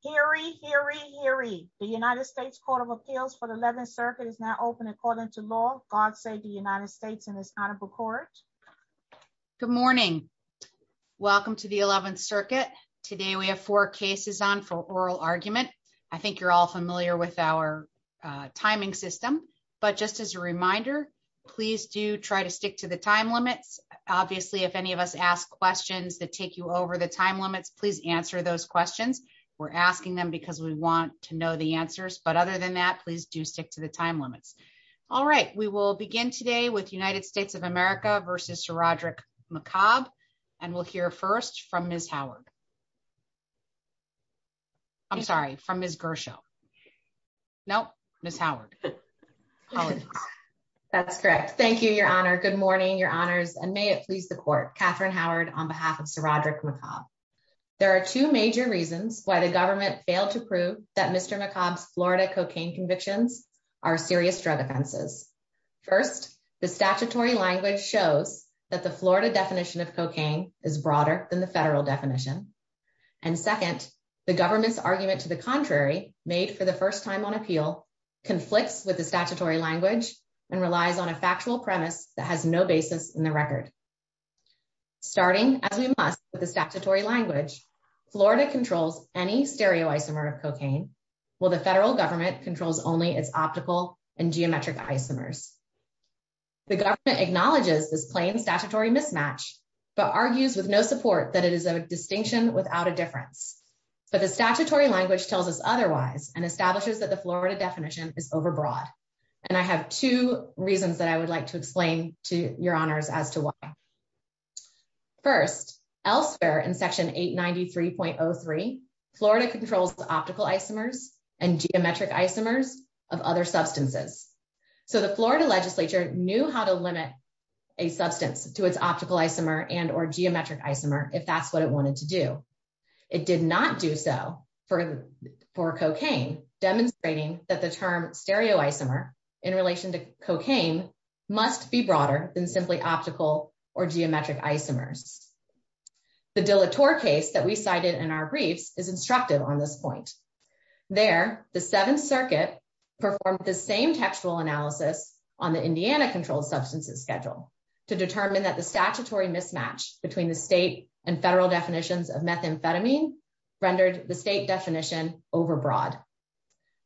Hear ye, hear ye, hear ye. The United States Court of Appeals for the 11th Circuit is now open according to law. God save the United States and its Honorable Court. Good morning. Welcome to the 11th Circuit. Today we have four cases on for oral argument. I think you're all familiar with our timing system, but just as a reminder, please do try to stick to the time limits. Obviously if any of us ask questions that take you over the time limits, please answer those questions. We're asking them because we want to know the answers. But other than that, please do stick to the time limits. All right, we will begin today with United States of America versus Sir Roderick McCobb, and we'll hear first from Miss Howard. I'm sorry, from Miss Gershow. No, Miss Howard. That's correct. Thank you, Your Honor. Good morning, Your Honors. And may it please the court, Catherine Howard on behalf of Sir Roderick McCobb. There are two major reasons why the government failed to prove that Mr. McCobb's Florida cocaine convictions are serious drug offenses. First, the statutory language shows that the Florida definition of cocaine is broader than the federal definition. And second, the government's argument to the contrary, made for the first time on appeal, conflicts with the statutory language and relies on a factual premise that has no basis in the record. Starting as we must with the statutory language, Florida controls any stereoisomer of cocaine, while the federal government controls only its optical and geometric isomers. The government acknowledges this plain statutory mismatch, but argues with no support that it is a distinction without a difference. But the statutory language tells us otherwise and establishes that the Florida definition is overbroad. And I have two reasons that I would like to explain to Your First, elsewhere in Section 893.03, Florida controls optical isomers and geometric isomers of other substances. So the Florida legislature knew how to limit a substance to its optical isomer and or geometric isomer if that's what it wanted to do. It did not do so for for cocaine, demonstrating that the term stereoisomer in relation to cocaine must be broader than simply optical or geometric isomers. The dilator case that we cited in our briefs is instructive on this point. There, the Seventh Circuit performed the same textual analysis on the Indiana controlled substances schedule to determine that the statutory mismatch between the state and federal definitions of methamphetamine rendered the state definition overbroad.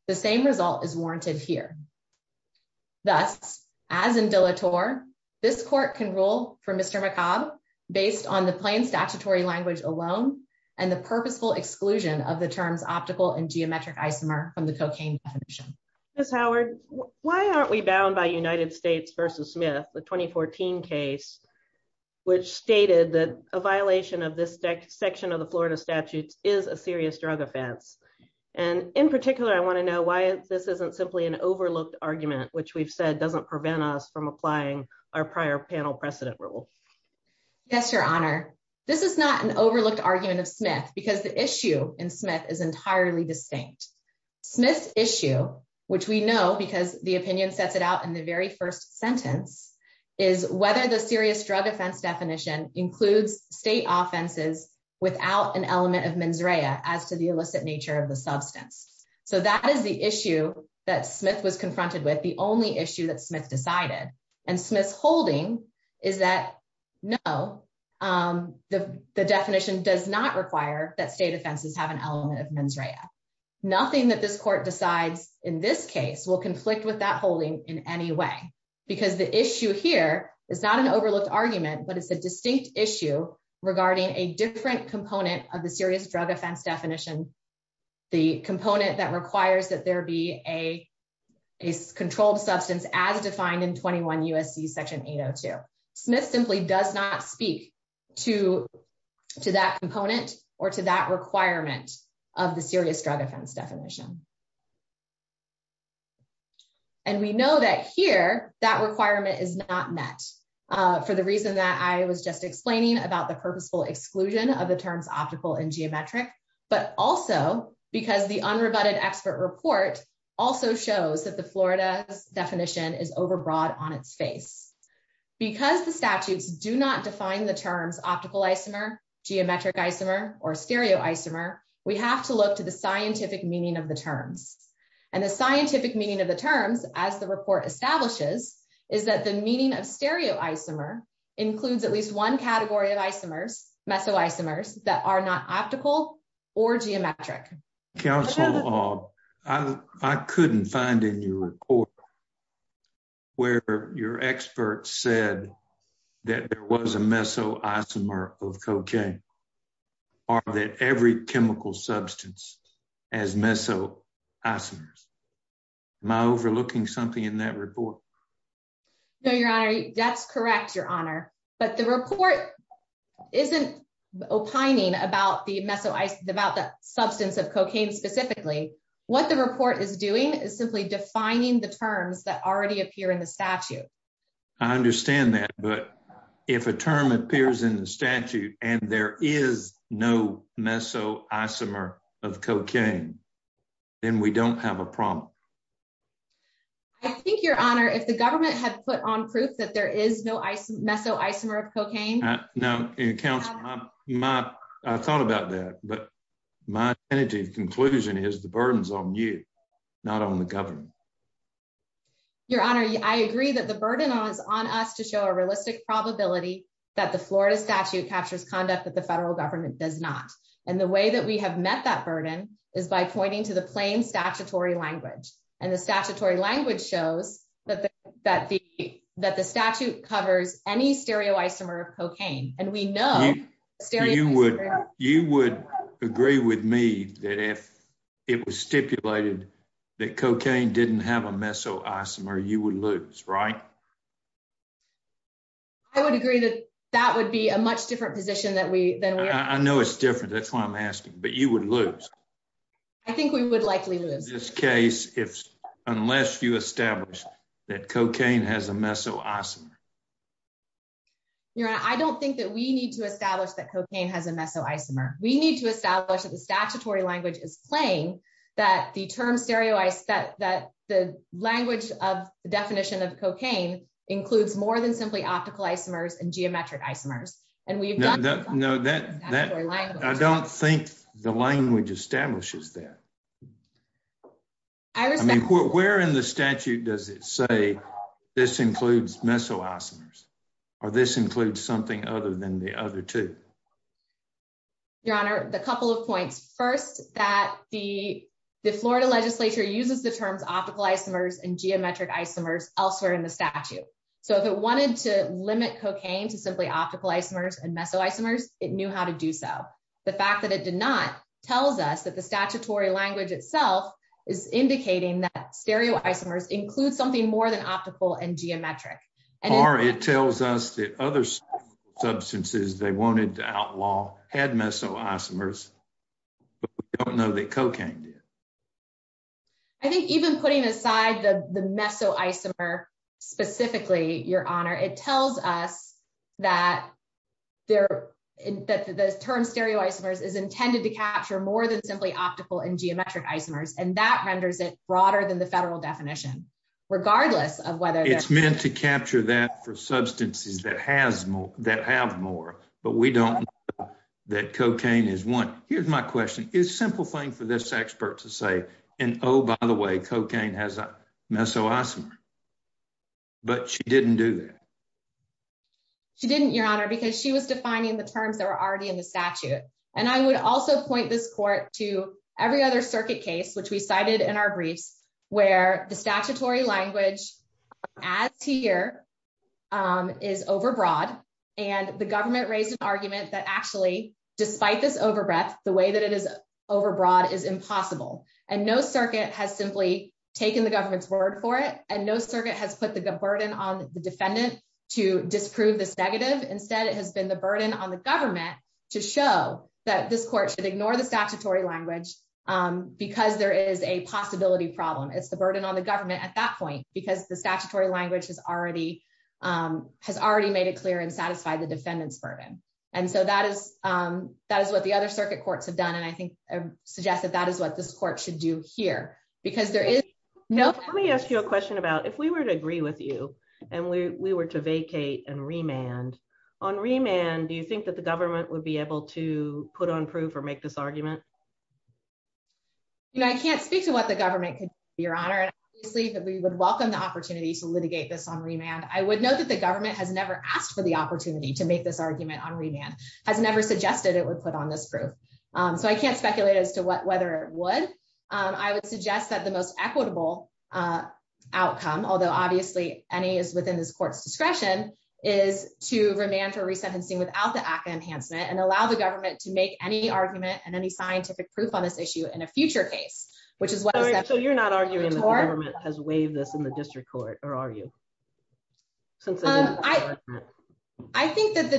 The same can rule for Mr. McCobb, based on the plain statutory language alone, and the purposeful exclusion of the terms optical and geometric isomer from the cocaine definition. Miss Howard, why aren't we bound by United States versus Smith, the 2014 case, which stated that a violation of this deck section of the Florida statutes is a serious drug offense. And in particular, I want to know why this isn't simply an overlooked argument, which we've said doesn't prevent us from applying our prior panel precedent rule. Yes, Your Honor, this is not an overlooked argument of Smith, because the issue in Smith is entirely distinct. Smith issue, which we know, because the opinion sets it out in the very first sentence is whether the serious drug offense definition includes state offenses without an element of mens rea as to the illicit nature of the substance. So that is the issue that Smith was confronted with the only issue that Smith decided. And Smith's holding is that no, the definition does not require that state offenses have an element of mens rea. Nothing that this court decides in this case will conflict with that holding in any way. Because the issue here is not an overlooked argument, but it's a distinct issue regarding a different component of the serious drug offense definition. The component that requires that there be a controlled substance as defined in 21 USC section 802. Smith simply does not speak to to that component or to that requirement of the serious drug offense definition. And we know that here that requirement is not met for the reason that I was just explaining about the purposeful exclusion of the terms optical and geometric, but also because the rebutted expert report also shows that the florida's definition is overbroad on its face because the statutes do not define the terms optical isomer, geometric isomer or stereo isomer. We have to look to the scientific meaning of the terms and the scientific meaning of the terms as the report establishes is that the meaning of stereo isomer includes at least one category of isomers meso isomers that are not optical or geometric council. Uh, I couldn't find in your report where your expert said that there was a meso isomer of cocaine. Are that every chemical substance as meso isomers my overlooking something in that report? No, Your Honor. That's correct, Your Honor. But the report isn't opining about the meso about the substance of cocaine specifically. What the report is doing is simply defining the terms that already appear in the statute. I understand that. But if a term appears in the statute and there is no meso isomer of cocaine, then we don't have a problem. I think, Your Honor, if the government had put on proof that there is no meso isomer of cocaine now in council, I thought about that. But my energy conclusion is the burdens on you, not on the government. Your Honor, I agree that the burden on us to show a realistic probability that the Florida statute captures conduct that the federal government does not. And the way that we have met that burden is by pointing to the plain statutory language. And the statutory language shows that that that the that the statute covers any stereo isomer of cocaine. And we know you would you would agree with me that if it was stipulated that cocaine didn't have a meso isomer, you would lose, right? I would agree that that would be a much different position that we than I know it's different. That's why I'm asking. But you would lose. I think we would likely lose this case if unless you establish that cocaine has a meso isomer. Your Honor, I don't think that we need to establish that cocaine has a meso isomer. We need to establish that the statutory language is playing that the term stereo is that that the language of the definition of cocaine includes more than simply optical isomers and geometric isomers. And we've got no that that I don't think the language establishes that I mean, where in the statute does it say this includes meso isomers or this includes something other than the other two? Your Honor, the couple of points first that the Florida legislature uses the terms optical isomers and geometric isomers elsewhere in the statute. So if it wanted to limit cocaine to simply optical isomers and meso isomers, it knew how to do so. The fact that it did not tells us that the statutory language itself is indicating that stereo isomers include something more than optical and geometric. Or it tells us that other substances they wanted to outlaw had meso isomers, but we don't know that cocaine did. I think even putting aside the meso isomer specifically, Your Honor, it tells us that they're that the term stereo isomers is intended to capture more than simply optical and geometric isomers, and that renders it broader than the federal definition, regardless of whether it's meant to capture that for substances that has more that have more. But we don't that cocaine is one. Here's my question is simple thing for this expert to say. And oh, by the way, cocaine has a meso isomer, but she didn't do that. She didn't, Your Honor, because she was defining the terms that were already in the statute. And I would also point this court to every other circuit case, which we cited in our briefs, where the statutory language as here, um, is overbroad. And the government raised an argument that actually, despite this overbreadth, the way that it is overbroad is impossible. And no circuit has simply taken the government's word for it. And no circuit has put the burden on the defendant to disprove this negative. Instead, it has been the burden on the government to show that this court should ignore the statutory language because there is a possibility problem. It's the burden on the government at that point, because the statutory language has already, um, has already made it clear and satisfied the defendant's burden. And so that is, um, that is what the other circuit courts have done. And I think I suggest that that is what this court should do here, because there is no, let me ask you a question about if we were to agree with you and we were to vacate and remand on remand, do you think that the government would be able to put on proof or make this argument? You know, I can't speak to what the government could be, Your Honor, and obviously that we would welcome the opportunity to litigate this on remand. I would know that the government has never asked for the opportunity to make this argument on remand, has never suggested it would put on this proof. Um, so I can't speculate as to what whether it would, um, I would suggest that the most equitable, uh, outcome, although obviously any is within this court's discretion, is to remand or resentencing without the ACA enhancement and allow the government to make any argument and any scientific proof on this issue in a future case, which is what, so you're not arguing that the government has waived this in the district court or are you? Since I, I think that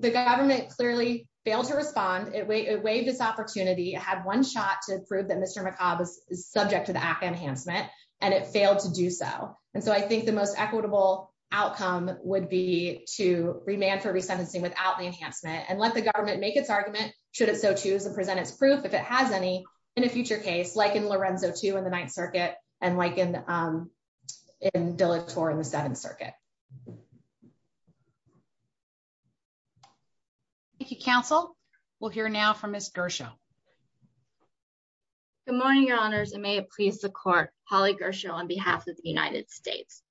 the government clearly failed to respond. It waived this opportunity, had one shot to prove that Mr McCabe is subject to the ACA enhancement and it failed to do so. And so I think the most equitable outcome would be to remand for resentencing without the enhancement and let the government make its argument. Should it so choose to present its proof if it has any in a future case, like in Lorenzo to in the Ninth Circuit and like in, um, in Dillett or in the Seventh Circuit. Thank you. Council will hear now from Mr Show. Good morning, Your Honor's and may it please the court. Holly Gershow on behalf of the United States.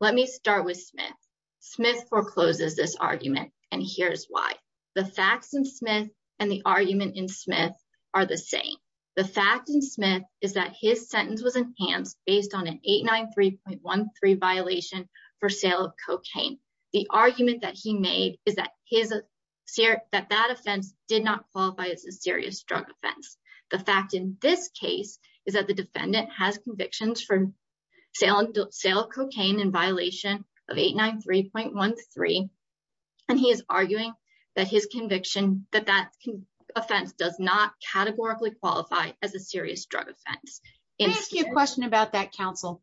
Let me start with Smith. Smith forecloses this argument and here's why the facts and Smith and the argument in Smith are the same. The fact in Smith is that his sentence was enhanced based on an 893.13 violation for sale of cocaine. The argument that he made is that his that that offense did not qualify as a serious drug offense. The fact in this case is that the defendant has convictions for sale of cocaine in violation of 893.13 and he is arguing that his conviction that that offense does not categorically qualify as a serious drug offense. Ask you a question about that. Council.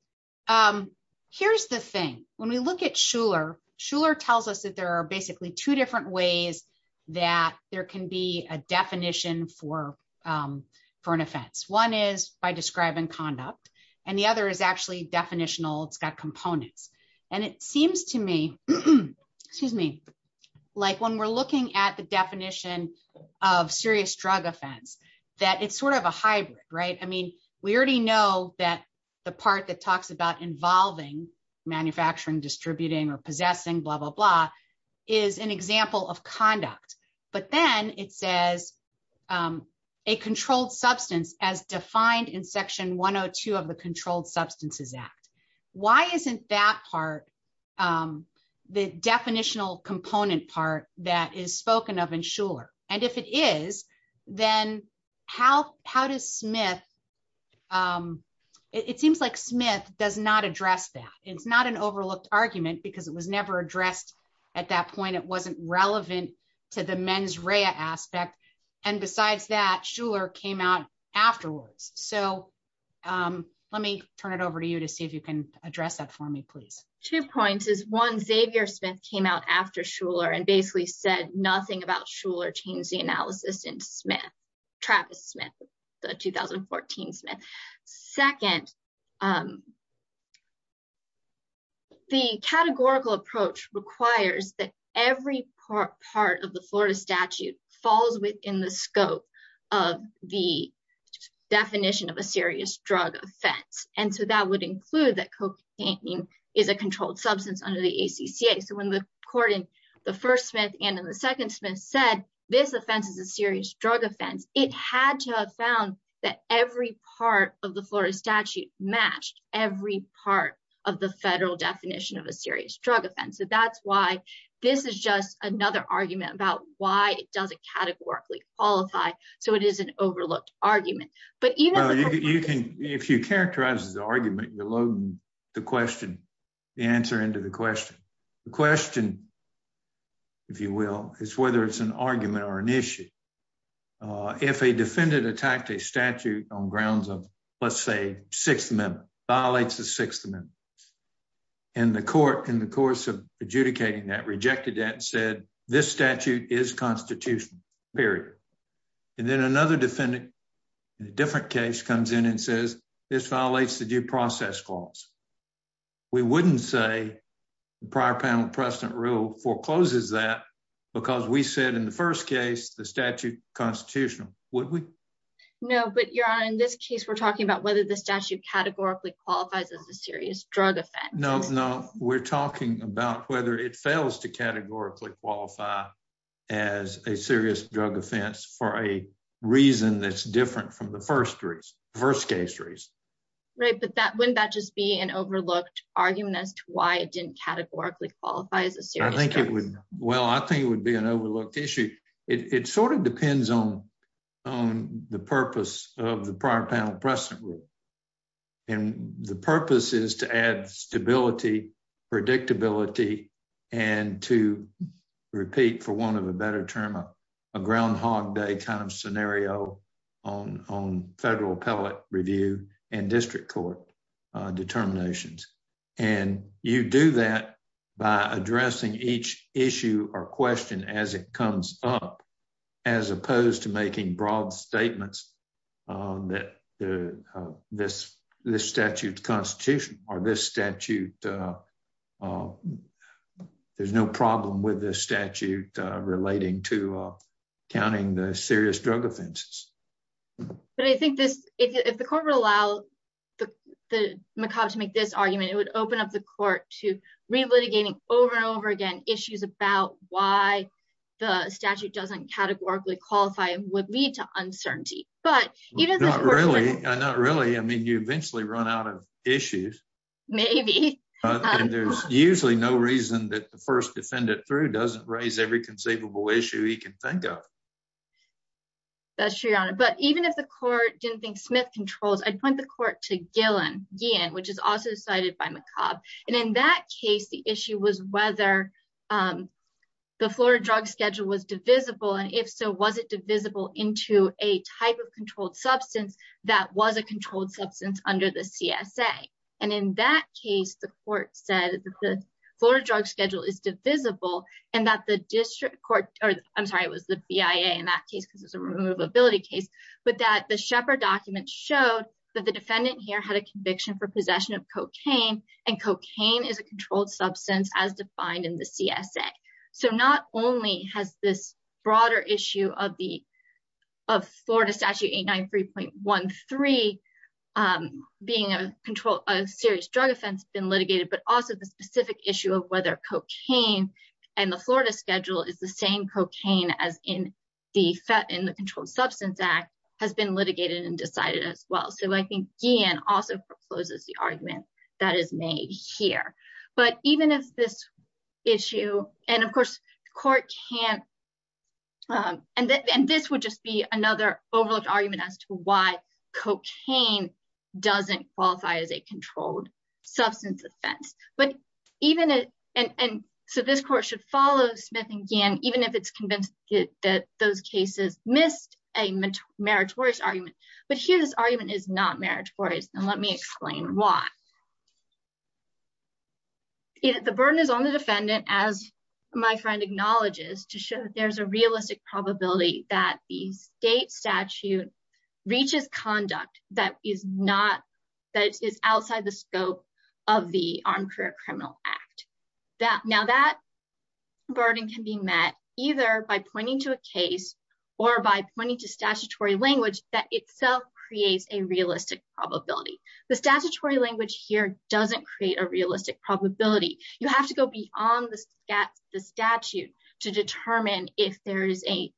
Um, here's the thing. When we look at Schuller, Schuller tells us that there are basically two different ways that there can be a definition for, um, for an offense. One is by describing conduct and the other is actually definitional. It's got components and it seems to me, excuse me, like when we're looking at the definition of serious drug offense, that it's sort of a hybrid, right? I mean, we already know that the part that talks about involving manufacturing, distributing or possessing blah, blah, blah is an example of conduct. But then it says, um, a controlled substance as defined in section 102 of the Controlled Substances Act. Why isn't that part? Um, the definitional component part that is spoken of in Schuller and if it is, then how? How does Smith? Um, it seems like Smith does not address that. It's not an overlooked argument because it was never addressed at that point. It wasn't relevant to the mens rea aspect. And besides that, Schuller came out afterwards. So, um, let me turn it over to you to see if you can address that for me, please. Two points is one, Xavier Smith came out after Schuller and basically said nothing about Schuller changed the analysis in Smith, Travis Smith, the 2014 Smith. Second, um, the categorical approach requires that every part of the Florida statute falls within the scope of the definition of a serious drug offense. And so that would include that cocaine is a controlled substance under the ACCA. So when the court in the first Smith and in the second Smith said this offense is a serious drug offense, it had to have found that every part of the Florida statute matched every part of the federal definition of a serious drug offense. So that's why this is just another argument about why it doesn't categorically qualify. So it is an if you characterize the argument, you're loading the question, the answer into the question. The question, if you will, is whether it's an argument or an issue. Uh, if a defendant attacked a statute on grounds of, let's say, Sixth Amendment violates the Sixth Amendment and the court in the course of adjudicating that rejected that said this statute is constitutional period. And then another defendant in a different case comes in and says this violates the due process clause. We wouldn't say the prior panel precedent rule forecloses that because we said in the first case, the statute constitutional, would we? No, but you're on. In this case, we're talking about whether the statute categorically qualifies as a serious drug offense. No, no, we're talking about whether it fails to categorically qualify as a for a reason that's different from the first race. First case race, right? But that when that just be an overlooked argument as to why it didn't categorically qualifies. I think it would. Well, I think it would be an overlooked issue. It sort of depends on on the purpose of the prior panel precedent rule, and the purpose is to add stability, predictability and to repeat for one of a better term, a groundhog day kind of scenario on on federal appellate review and district court determinations. And you do that by addressing each issue or question as it comes up, as opposed to making broad statements that this this statute constitution or this statute. Oh, there's no problem with this statute relating to counting the serious drug offenses. But I think this if the corporate allow the macabre to make this argument, it would open up the court to re litigating over and over again issues about why the statute doesn't categorically qualify would lead to uncertainty. But not really. Not really. I mean, you eventually run out of issues. Maybe. And there's usually no reason that the first defendant through doesn't raise every conceivable issue he can think of. That's true, Your Honor. But even if the court didn't think Smith controls, I'd point the court to Gillen, which is also decided by McCobb. And in that case, the issue was whether the Florida drug schedule was divisible. And if so, was it divisible into a type of controlled substance that was a controlled substance under the CSA? And in that case, the court said that the Florida drug schedule is divisible and that the district court or I'm sorry, it was the BIA in that case because it's a removability case, but that the Shepard document showed that the defendant here had a conviction for possession of cocaine and cocaine is a controlled substance as defined in the CSA. So not only has this broader issue of the of Florida statute eight nine three point one three being a control, a serious drug offense been litigated, but also the specific issue of whether cocaine and the Florida schedule is the same cocaine as in the in the Controlled Substance Act has been litigated and decided as well. So I think Gillen also proposes the argument that is made here. But even if this issue and of course, court can't. And this would just be another overlooked argument as to why cocaine doesn't qualify as a controlled substance offense. But even and so this court should follow Smith and Gann, even if it's convinced that those cases missed a meritorious argument. But here this argument is not let me explain why. The burden is on the defendant, as my friend acknowledges, to show there's a realistic probability that the state statute reaches conduct that is not that is outside the scope of the Armed Career Criminal Act that now that burden can be met either by pointing to a case or by pointing to statutory language that itself creates a realistic probability. The statutory language here doesn't create a realistic probability. You have to go beyond the statute to determine if there is a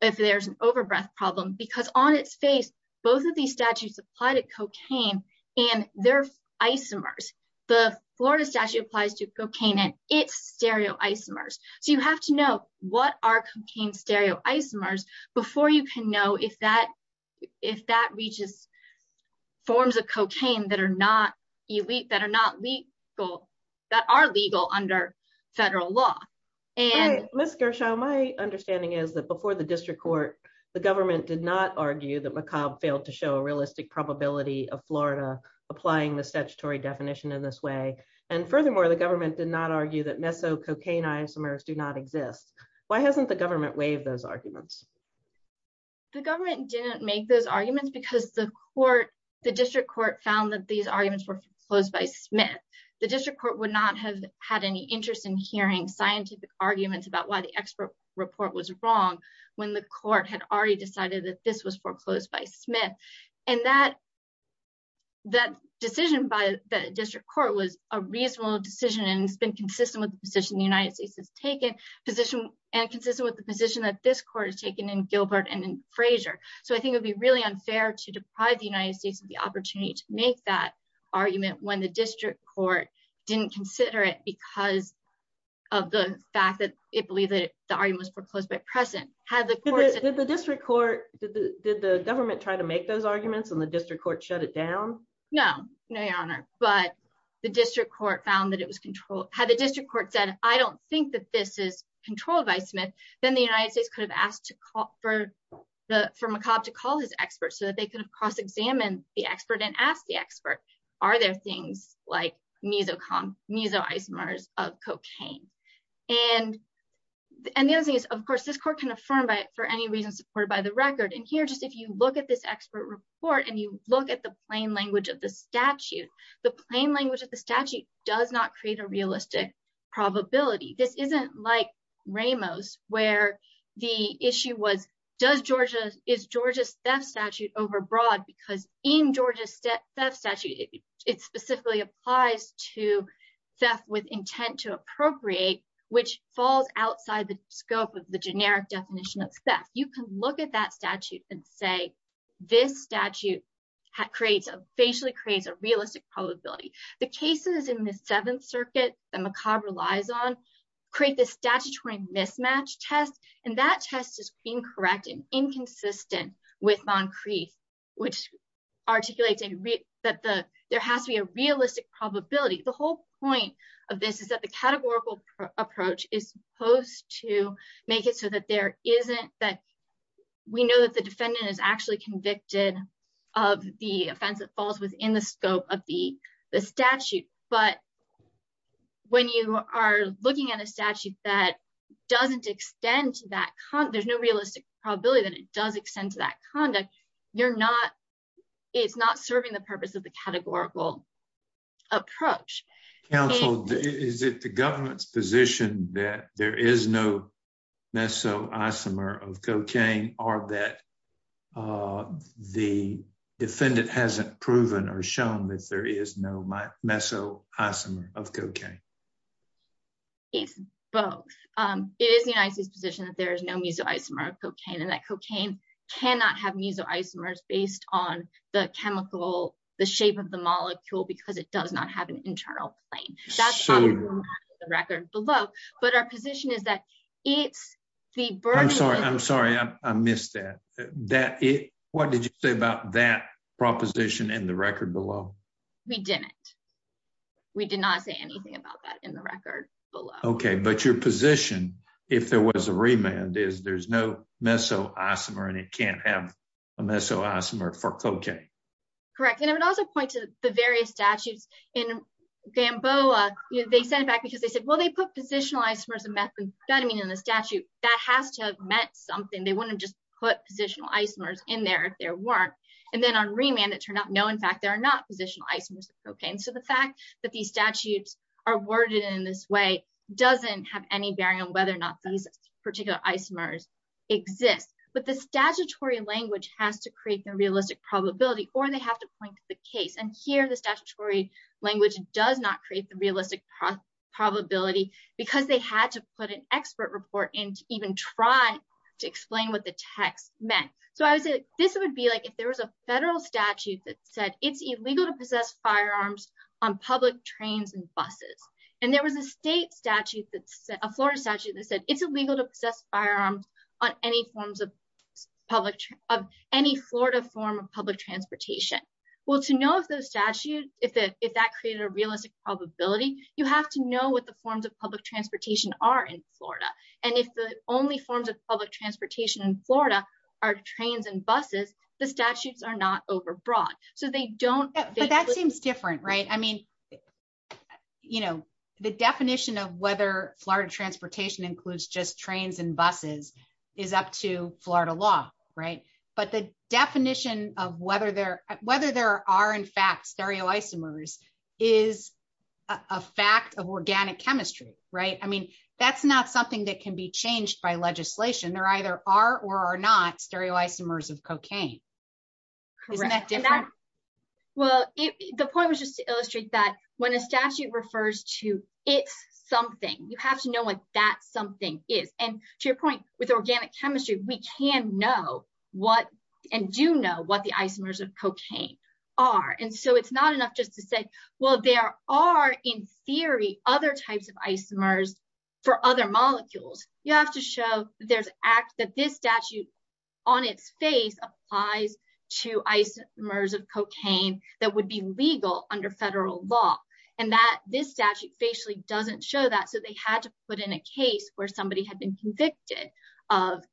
if there's an overbreath problem, because on its face, both of these statutes apply to cocaine and their isomers. The Florida statute applies to cocaine and its stereo isomers. So you have to know what are cocaine stereo isomers before you can know if that if that reaches forms of cocaine that are not elite, that are not legal, that are legal under federal law. Miss Gershow, my understanding is that before the district court, the government did not argue that McCobb failed to show a realistic probability of Florida applying the statutory definition in this way. And furthermore, the government did not argue that meso cocaine isomers do not exist. Why hasn't the government waived those arguments? The government didn't make those arguments because the court, the district court found that these arguments were foreclosed by Smith. The district court would not have had any interest in hearing scientific arguments about why the expert report was wrong when the court had already decided that this was foreclosed by Smith. And that that decision by the district court was a reasonable decision and it's been consistent with the position the United States has taken position and consistent with the position that this court has taken in Gilbert and in Frazier. So I think it'd be really unfair to deprive the United States of the opportunity to make that argument when the district court didn't consider it because of the fact that it believed that the argument was foreclosed by precedent. Did the district court, did the did the government try to make those arguments and the district court shut it down? No, no, your honor, but the district court found that it was controlled. Had the district court said, I don't think that this is controlled by Smith, then the United States could have asked to call for the, for McCobb to call his experts so that they could have cross-examined the expert and asked the expert, are there things like mesocom, mesoisomers of cocaine? And, and the other thing is, of course, this court can affirm by it for any reason supported by the record. And here, just if you look at this expert report and you look at the plain language of the statute, does not create a realistic probability. This isn't like Ramos, where the issue was, does Georgia, is Georgia's theft statute overbroad? Because in Georgia's theft statute, it specifically applies to theft with intent to appropriate, which falls outside the scope of the generic definition of theft. You can look at that statute and say, this statute creates a, facially creates a realistic probability. The cases in the seventh circuit that McCobb relies on create this statutory mismatch test. And that test is incorrect and inconsistent with Moncrief, which articulates that the, there has to be a realistic probability. The whole point of this is that the categorical approach is supposed to make it so that there the offense that falls within the scope of the statute. But when you are looking at a statute that doesn't extend to that, there's no realistic probability that it does extend to that conduct. You're not, it's not serving the purpose of the categorical approach. Counsel, is it the defendant hasn't proven or shown that there is no meso isomer of cocaine? It's both. It is the United States position that there is no meso isomer of cocaine and that cocaine cannot have meso isomers based on the chemical, the shape of the molecule, because it does not have an internal plane. That's on the record below. But our position is that it's the burden. I'm sorry. I'm sorry. I missed that. That it, what did you say about that proposition in the record below? We didn't, we did not say anything about that in the record below. Okay. But your position, if there was a remand is there's no meso isomer and it can't have a meso isomer for cocaine. Correct. And I would also point to the various statutes in Gamboa. They sent it back because they said, well, they put positional isomers of methamphetamine in the that has to have meant something. They wouldn't have just put positional isomers in there if there weren't. And then on remand, it turned out, no, in fact, there are not positional isomers. Okay. And so the fact that these statutes are worded in this way doesn't have any bearing on whether or not these particular isomers exist, but the statutory language has to create the realistic probability, or they have to point to the case. And here the statutory language does not create the realistic probability because they had to put an expert report in to even try to explain what the text meant. So I would say this would be like, if there was a federal statute that said it's illegal to possess firearms on public trains and buses, and there was a state statute that's a Florida statute that said it's illegal to possess firearms on any forms of public of any Florida form of public transportation. Well, to know if those statutes, if that created a realistic probability, you have to know what the forms of public transportation are in Florida. And if the only forms of public transportation in Florida are trains and buses, the statutes are not overbrought. So they don't- But that seems different, right? I mean, the definition of whether Florida transportation includes just trains and buses is up to Florida law, right? But the definition of whether there are in fact stereoisomers is a fact of organic chemistry, right? I mean, that's not something that can be changed by legislation. There either are or are not stereoisomers of cocaine. Isn't that different? Well, the point was just to illustrate that when a statute refers to it's something, you have to know what that something is. And to your point with organic chemistry, we can know what and do know what the isomers of cocaine are. And so it's not enough just to say, well, there are in theory, other types of isomers for other molecules. You have to show there's act that this statute on its face applies to isomers of cocaine that would be legal under federal law. And that this statute facially doesn't show that. They had to put in a case where somebody had been convicted of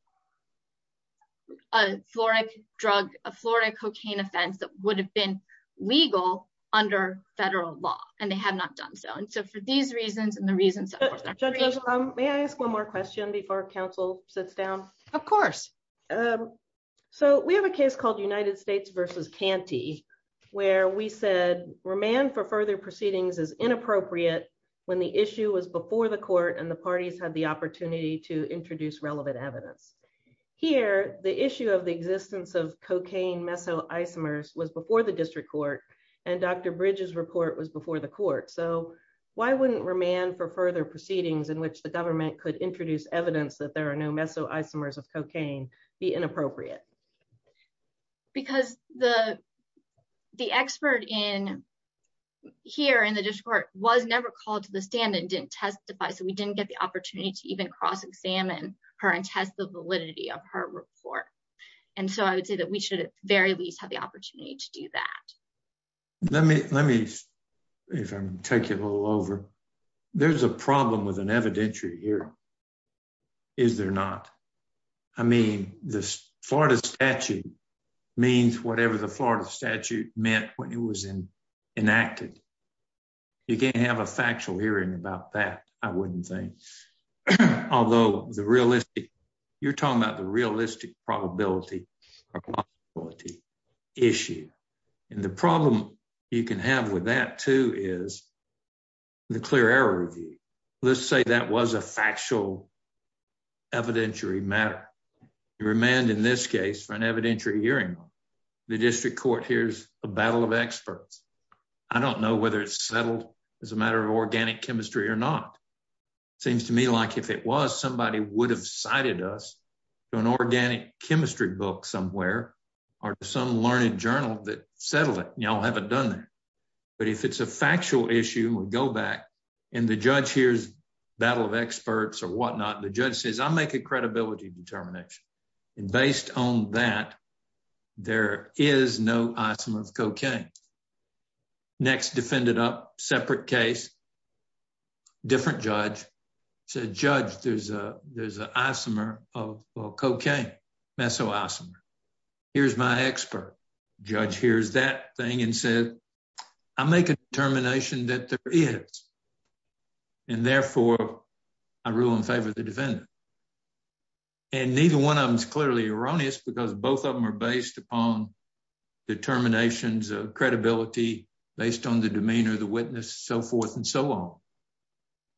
a Florida drug, a Florida cocaine offense that would have been legal under federal law, and they have not done so. And so for these reasons and the reasons- Judges, may I ask one more question before council sits down? Of course. So we have a case called United States versus Canty, where we said remand for further proceedings is inappropriate when the issue was before the court and the parties had the opportunity to introduce relevant evidence. Here, the issue of the existence of cocaine meso isomers was before the district court and Dr. Bridges report was before the court. So why wouldn't remand for further proceedings in which the government could introduce evidence that there was never called to the stand and didn't testify. So we didn't get the opportunity to even cross examine her and test the validity of her report. And so I would say that we should at the very least have the opportunity to do that. Let me, let me, if I'm taking a little over, there's a problem with an evidentiary here. Is there not? I mean, this Florida statute means whatever the Florida statute meant when it was enacted. You can't have a factual hearing about that, I wouldn't think. Although the realistic, you're talking about the realistic probability issue. And the problem you can have with that too is the clear error review. Let's the district court. Here's a battle of experts. I don't know whether it's settled as a matter of organic chemistry or not. It seems to me like if it was, somebody would have cited us to an organic chemistry book somewhere or some learned journal that settled it. Y'all haven't done that. But if it's a factual issue, we go back and the judge here's battle of experts or whatnot. The there is no isomer of cocaine. Next defendant up, separate case, different judge said, judge, there's a, there's an isomer of cocaine, meso isomer. Here's my expert. Judge hears that thing and said, I make a determination that there is. And therefore, I rule in favor of the defendant. And neither one of them is clearly erroneous because both of them are based upon determinations of credibility based on the demeanor of the witness, so forth and so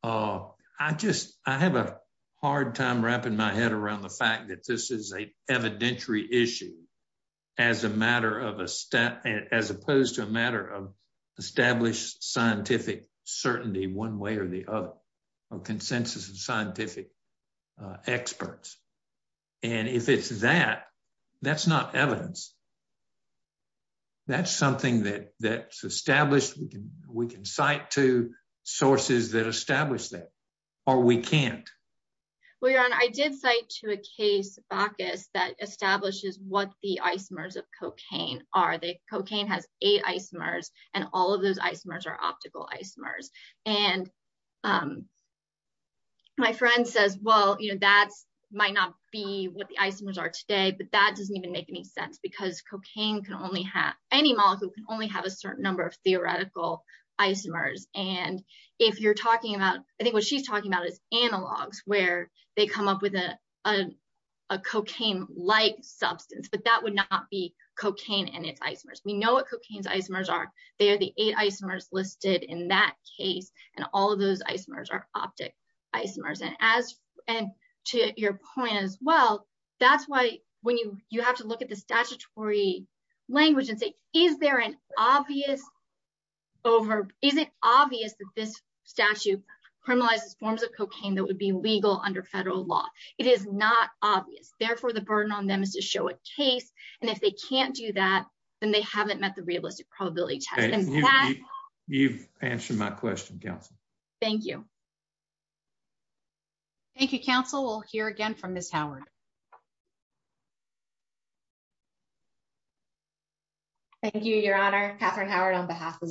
on. I just, I have a hard time wrapping my head around the fact that this is a evidentiary issue as a matter of a step as opposed to a matter of established scientific certainty, one way or the other or consensus of scientific experts. And if it's that, that's not evidence. That's something that that's established. We can, we can cite to sources that establish that or we can't. Well, your Honor, I did cite to a case, Bacchus that establishes what the isomers of cocaine are. The cocaine has eight isomers and all of those isomers are optical isomers. And my friend says, well, you know, that's might not be what the isomers are today, but that doesn't even make any sense because cocaine can only have any molecule can only have a certain number of theoretical isomers. And if you're talking about, I think what she's talking about is analogs where they come up with a cocaine-like substance, but that would not be cocaine and its isomers. We know what cocaine's isomers are. They are the eight isomers listed in that case. And all of those isomers are optic isomers. And as, and to your point as well, that's why when you, you have to look at the statutory language and say, is there an obvious over, is it obvious that this statute criminalizes forms of cocaine that would be legal under federal law? It is not obvious. Therefore, the burden on them is to show a case. And if they can't do that, then they haven't met the realistic probability test. You've answered my question, counsel. Thank you. Thank you, counsel. We'll hear again from Ms. Howard. Thank you, your honor, Katherine Howard on behalf of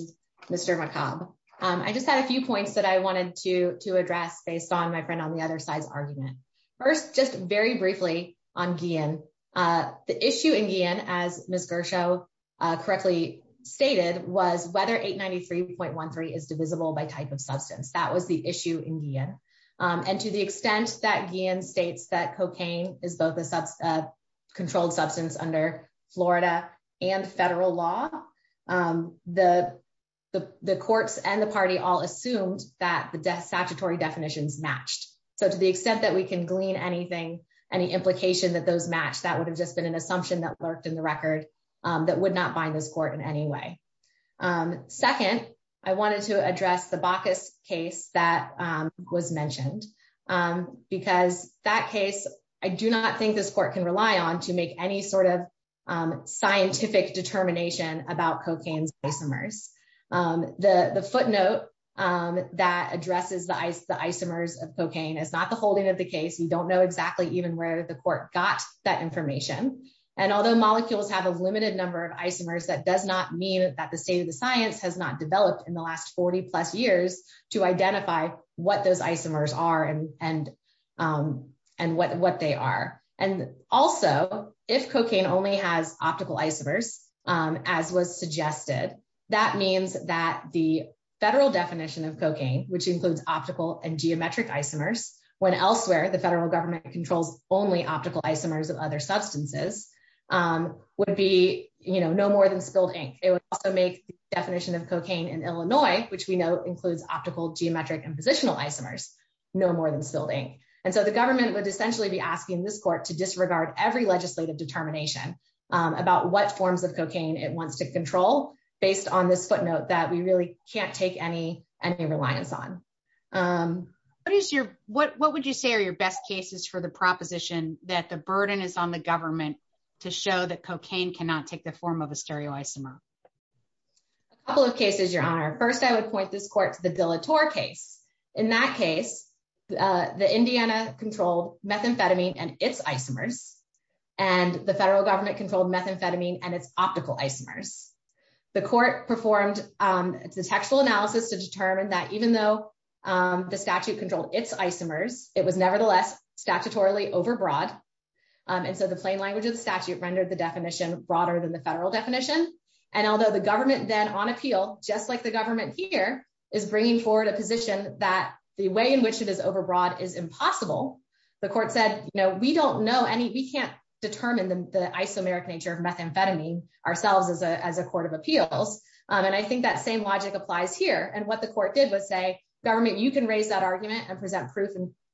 Mr. McCobb. I just had a few points that I wanted to address based on my friend on the other side's argument. First, just very briefly on Guillen. The issue in Guillen as Ms. Gershow correctly stated was whether 893.13 is divisible by type of substance. That was the issue in Guillen. And to the extent that Guillen states that cocaine is both a controlled substance under Florida and federal law, the courts and the party all assumed that the death statutory definitions matched. So to the extent that we can glean anything, any implication that those match, that would have just been an assumption that lurked in the record that would not bind this court in any way. Second, I wanted to address the Bacchus case that was mentioned, because that case, I do not think this court can rely on to make any sort of scientific determination about cocaine's isomers. The footnote that addresses the isomers of cocaine is not the holding of the case. We don't know exactly even where the court got that information. And although molecules have a limited number of isomers, that does not mean that the state of the science has developed in the last 40 plus years to identify what those isomers are and what they are. And also, if cocaine only has optical isomers, as was suggested, that means that the federal definition of cocaine, which includes optical and geometric isomers, when elsewhere the federal government controls only optical isomers of other substances, would be no more than spilled ink. It would also definition of cocaine in Illinois, which we know includes optical geometric and positional isomers, no more than spilled ink. And so the government would essentially be asking this court to disregard every legislative determination about what forms of cocaine it wants to control, based on this footnote that we really can't take any reliance on. What would you say are your best cases for the proposition that the burden is on the government to show that cocaine cannot take the form of a stereoisomer? A couple of cases, Your Honor. First, I would point this court to the Dillator case. In that case, the Indiana controlled methamphetamine and its isomers, and the federal government controlled methamphetamine and its optical isomers. The court performed a textual analysis to determine that even though the statute controlled its isomers, it was nevertheless statutorily overbroad. And so the plain language of the statute rendered the definition broader than the federal definition. And although the government then on appeal, just like the government here, is bringing forward a position that the way in which it is overbroad is impossible. The court said, you know, we don't know any, we can't determine the isomeric nature of methamphetamine ourselves as a court of appeals. And I think that same logic applies here. And what the court did was say, government, you can raise that argument and present proof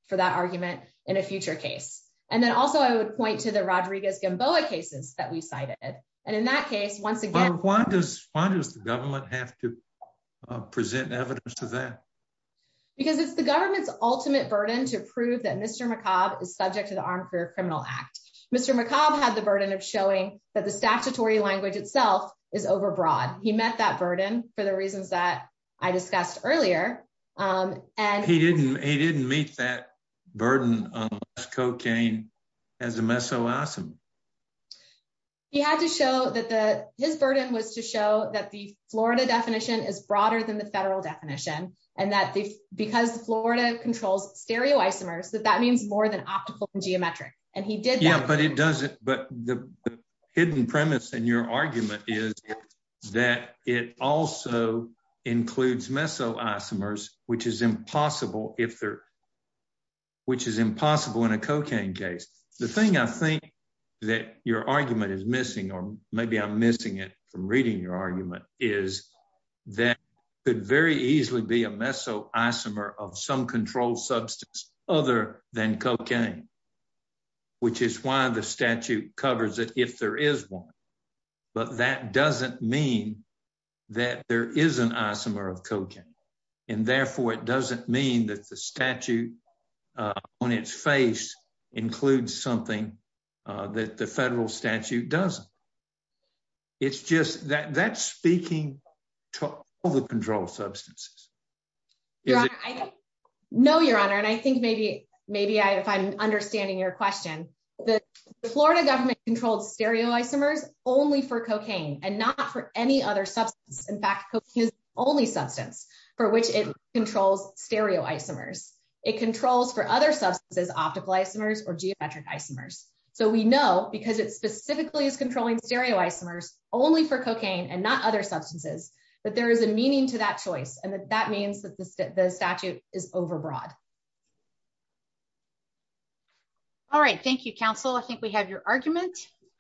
for that argument in a future case. And then also, I would point to the Rodriguez-Gamboa cases that we cited. And in that case, once again... Why does the government have to present evidence to that? Because it's the government's ultimate burden to prove that Mr. McCobb is subject to the Armed Career Criminal Act. Mr. McCobb had the burden of showing that the statutory language itself is overbroad. He met that cocaine as a meso isomer. He had to show that the, his burden was to show that the Florida definition is broader than the federal definition. And that because Florida controls stereoisomers, that that means more than optical and geometric. And he did that. Yeah, but it doesn't, but the hidden premise in your argument is that it also includes meso isomers, which is impossible if they're, which is impossible in a cocaine case. The thing I think that your argument is missing, or maybe I'm missing it from reading your argument, is that could very easily be a meso isomer of some controlled substance other than cocaine, which is why the statute covers it if there is one. But that doesn't mean that there is an isomer of cocaine. And therefore, it doesn't mean that the statute on its face includes something that the federal statute doesn't. It's just that that's speaking to all the controlled substances. No, Your Honor, and I think maybe, maybe if I'm understanding your question, the Florida government controlled stereoisomers only for cocaine and not for any other substance. In fact, only substance for which it controls stereoisomers. It controls for other substances, optical isomers, or geometric isomers. So we know because it specifically is controlling stereoisomers only for cocaine and not other substances, that there is a meaning to that choice. And that means that the statute is overbroad. All right. Thank you, counsel. I think we have your argument.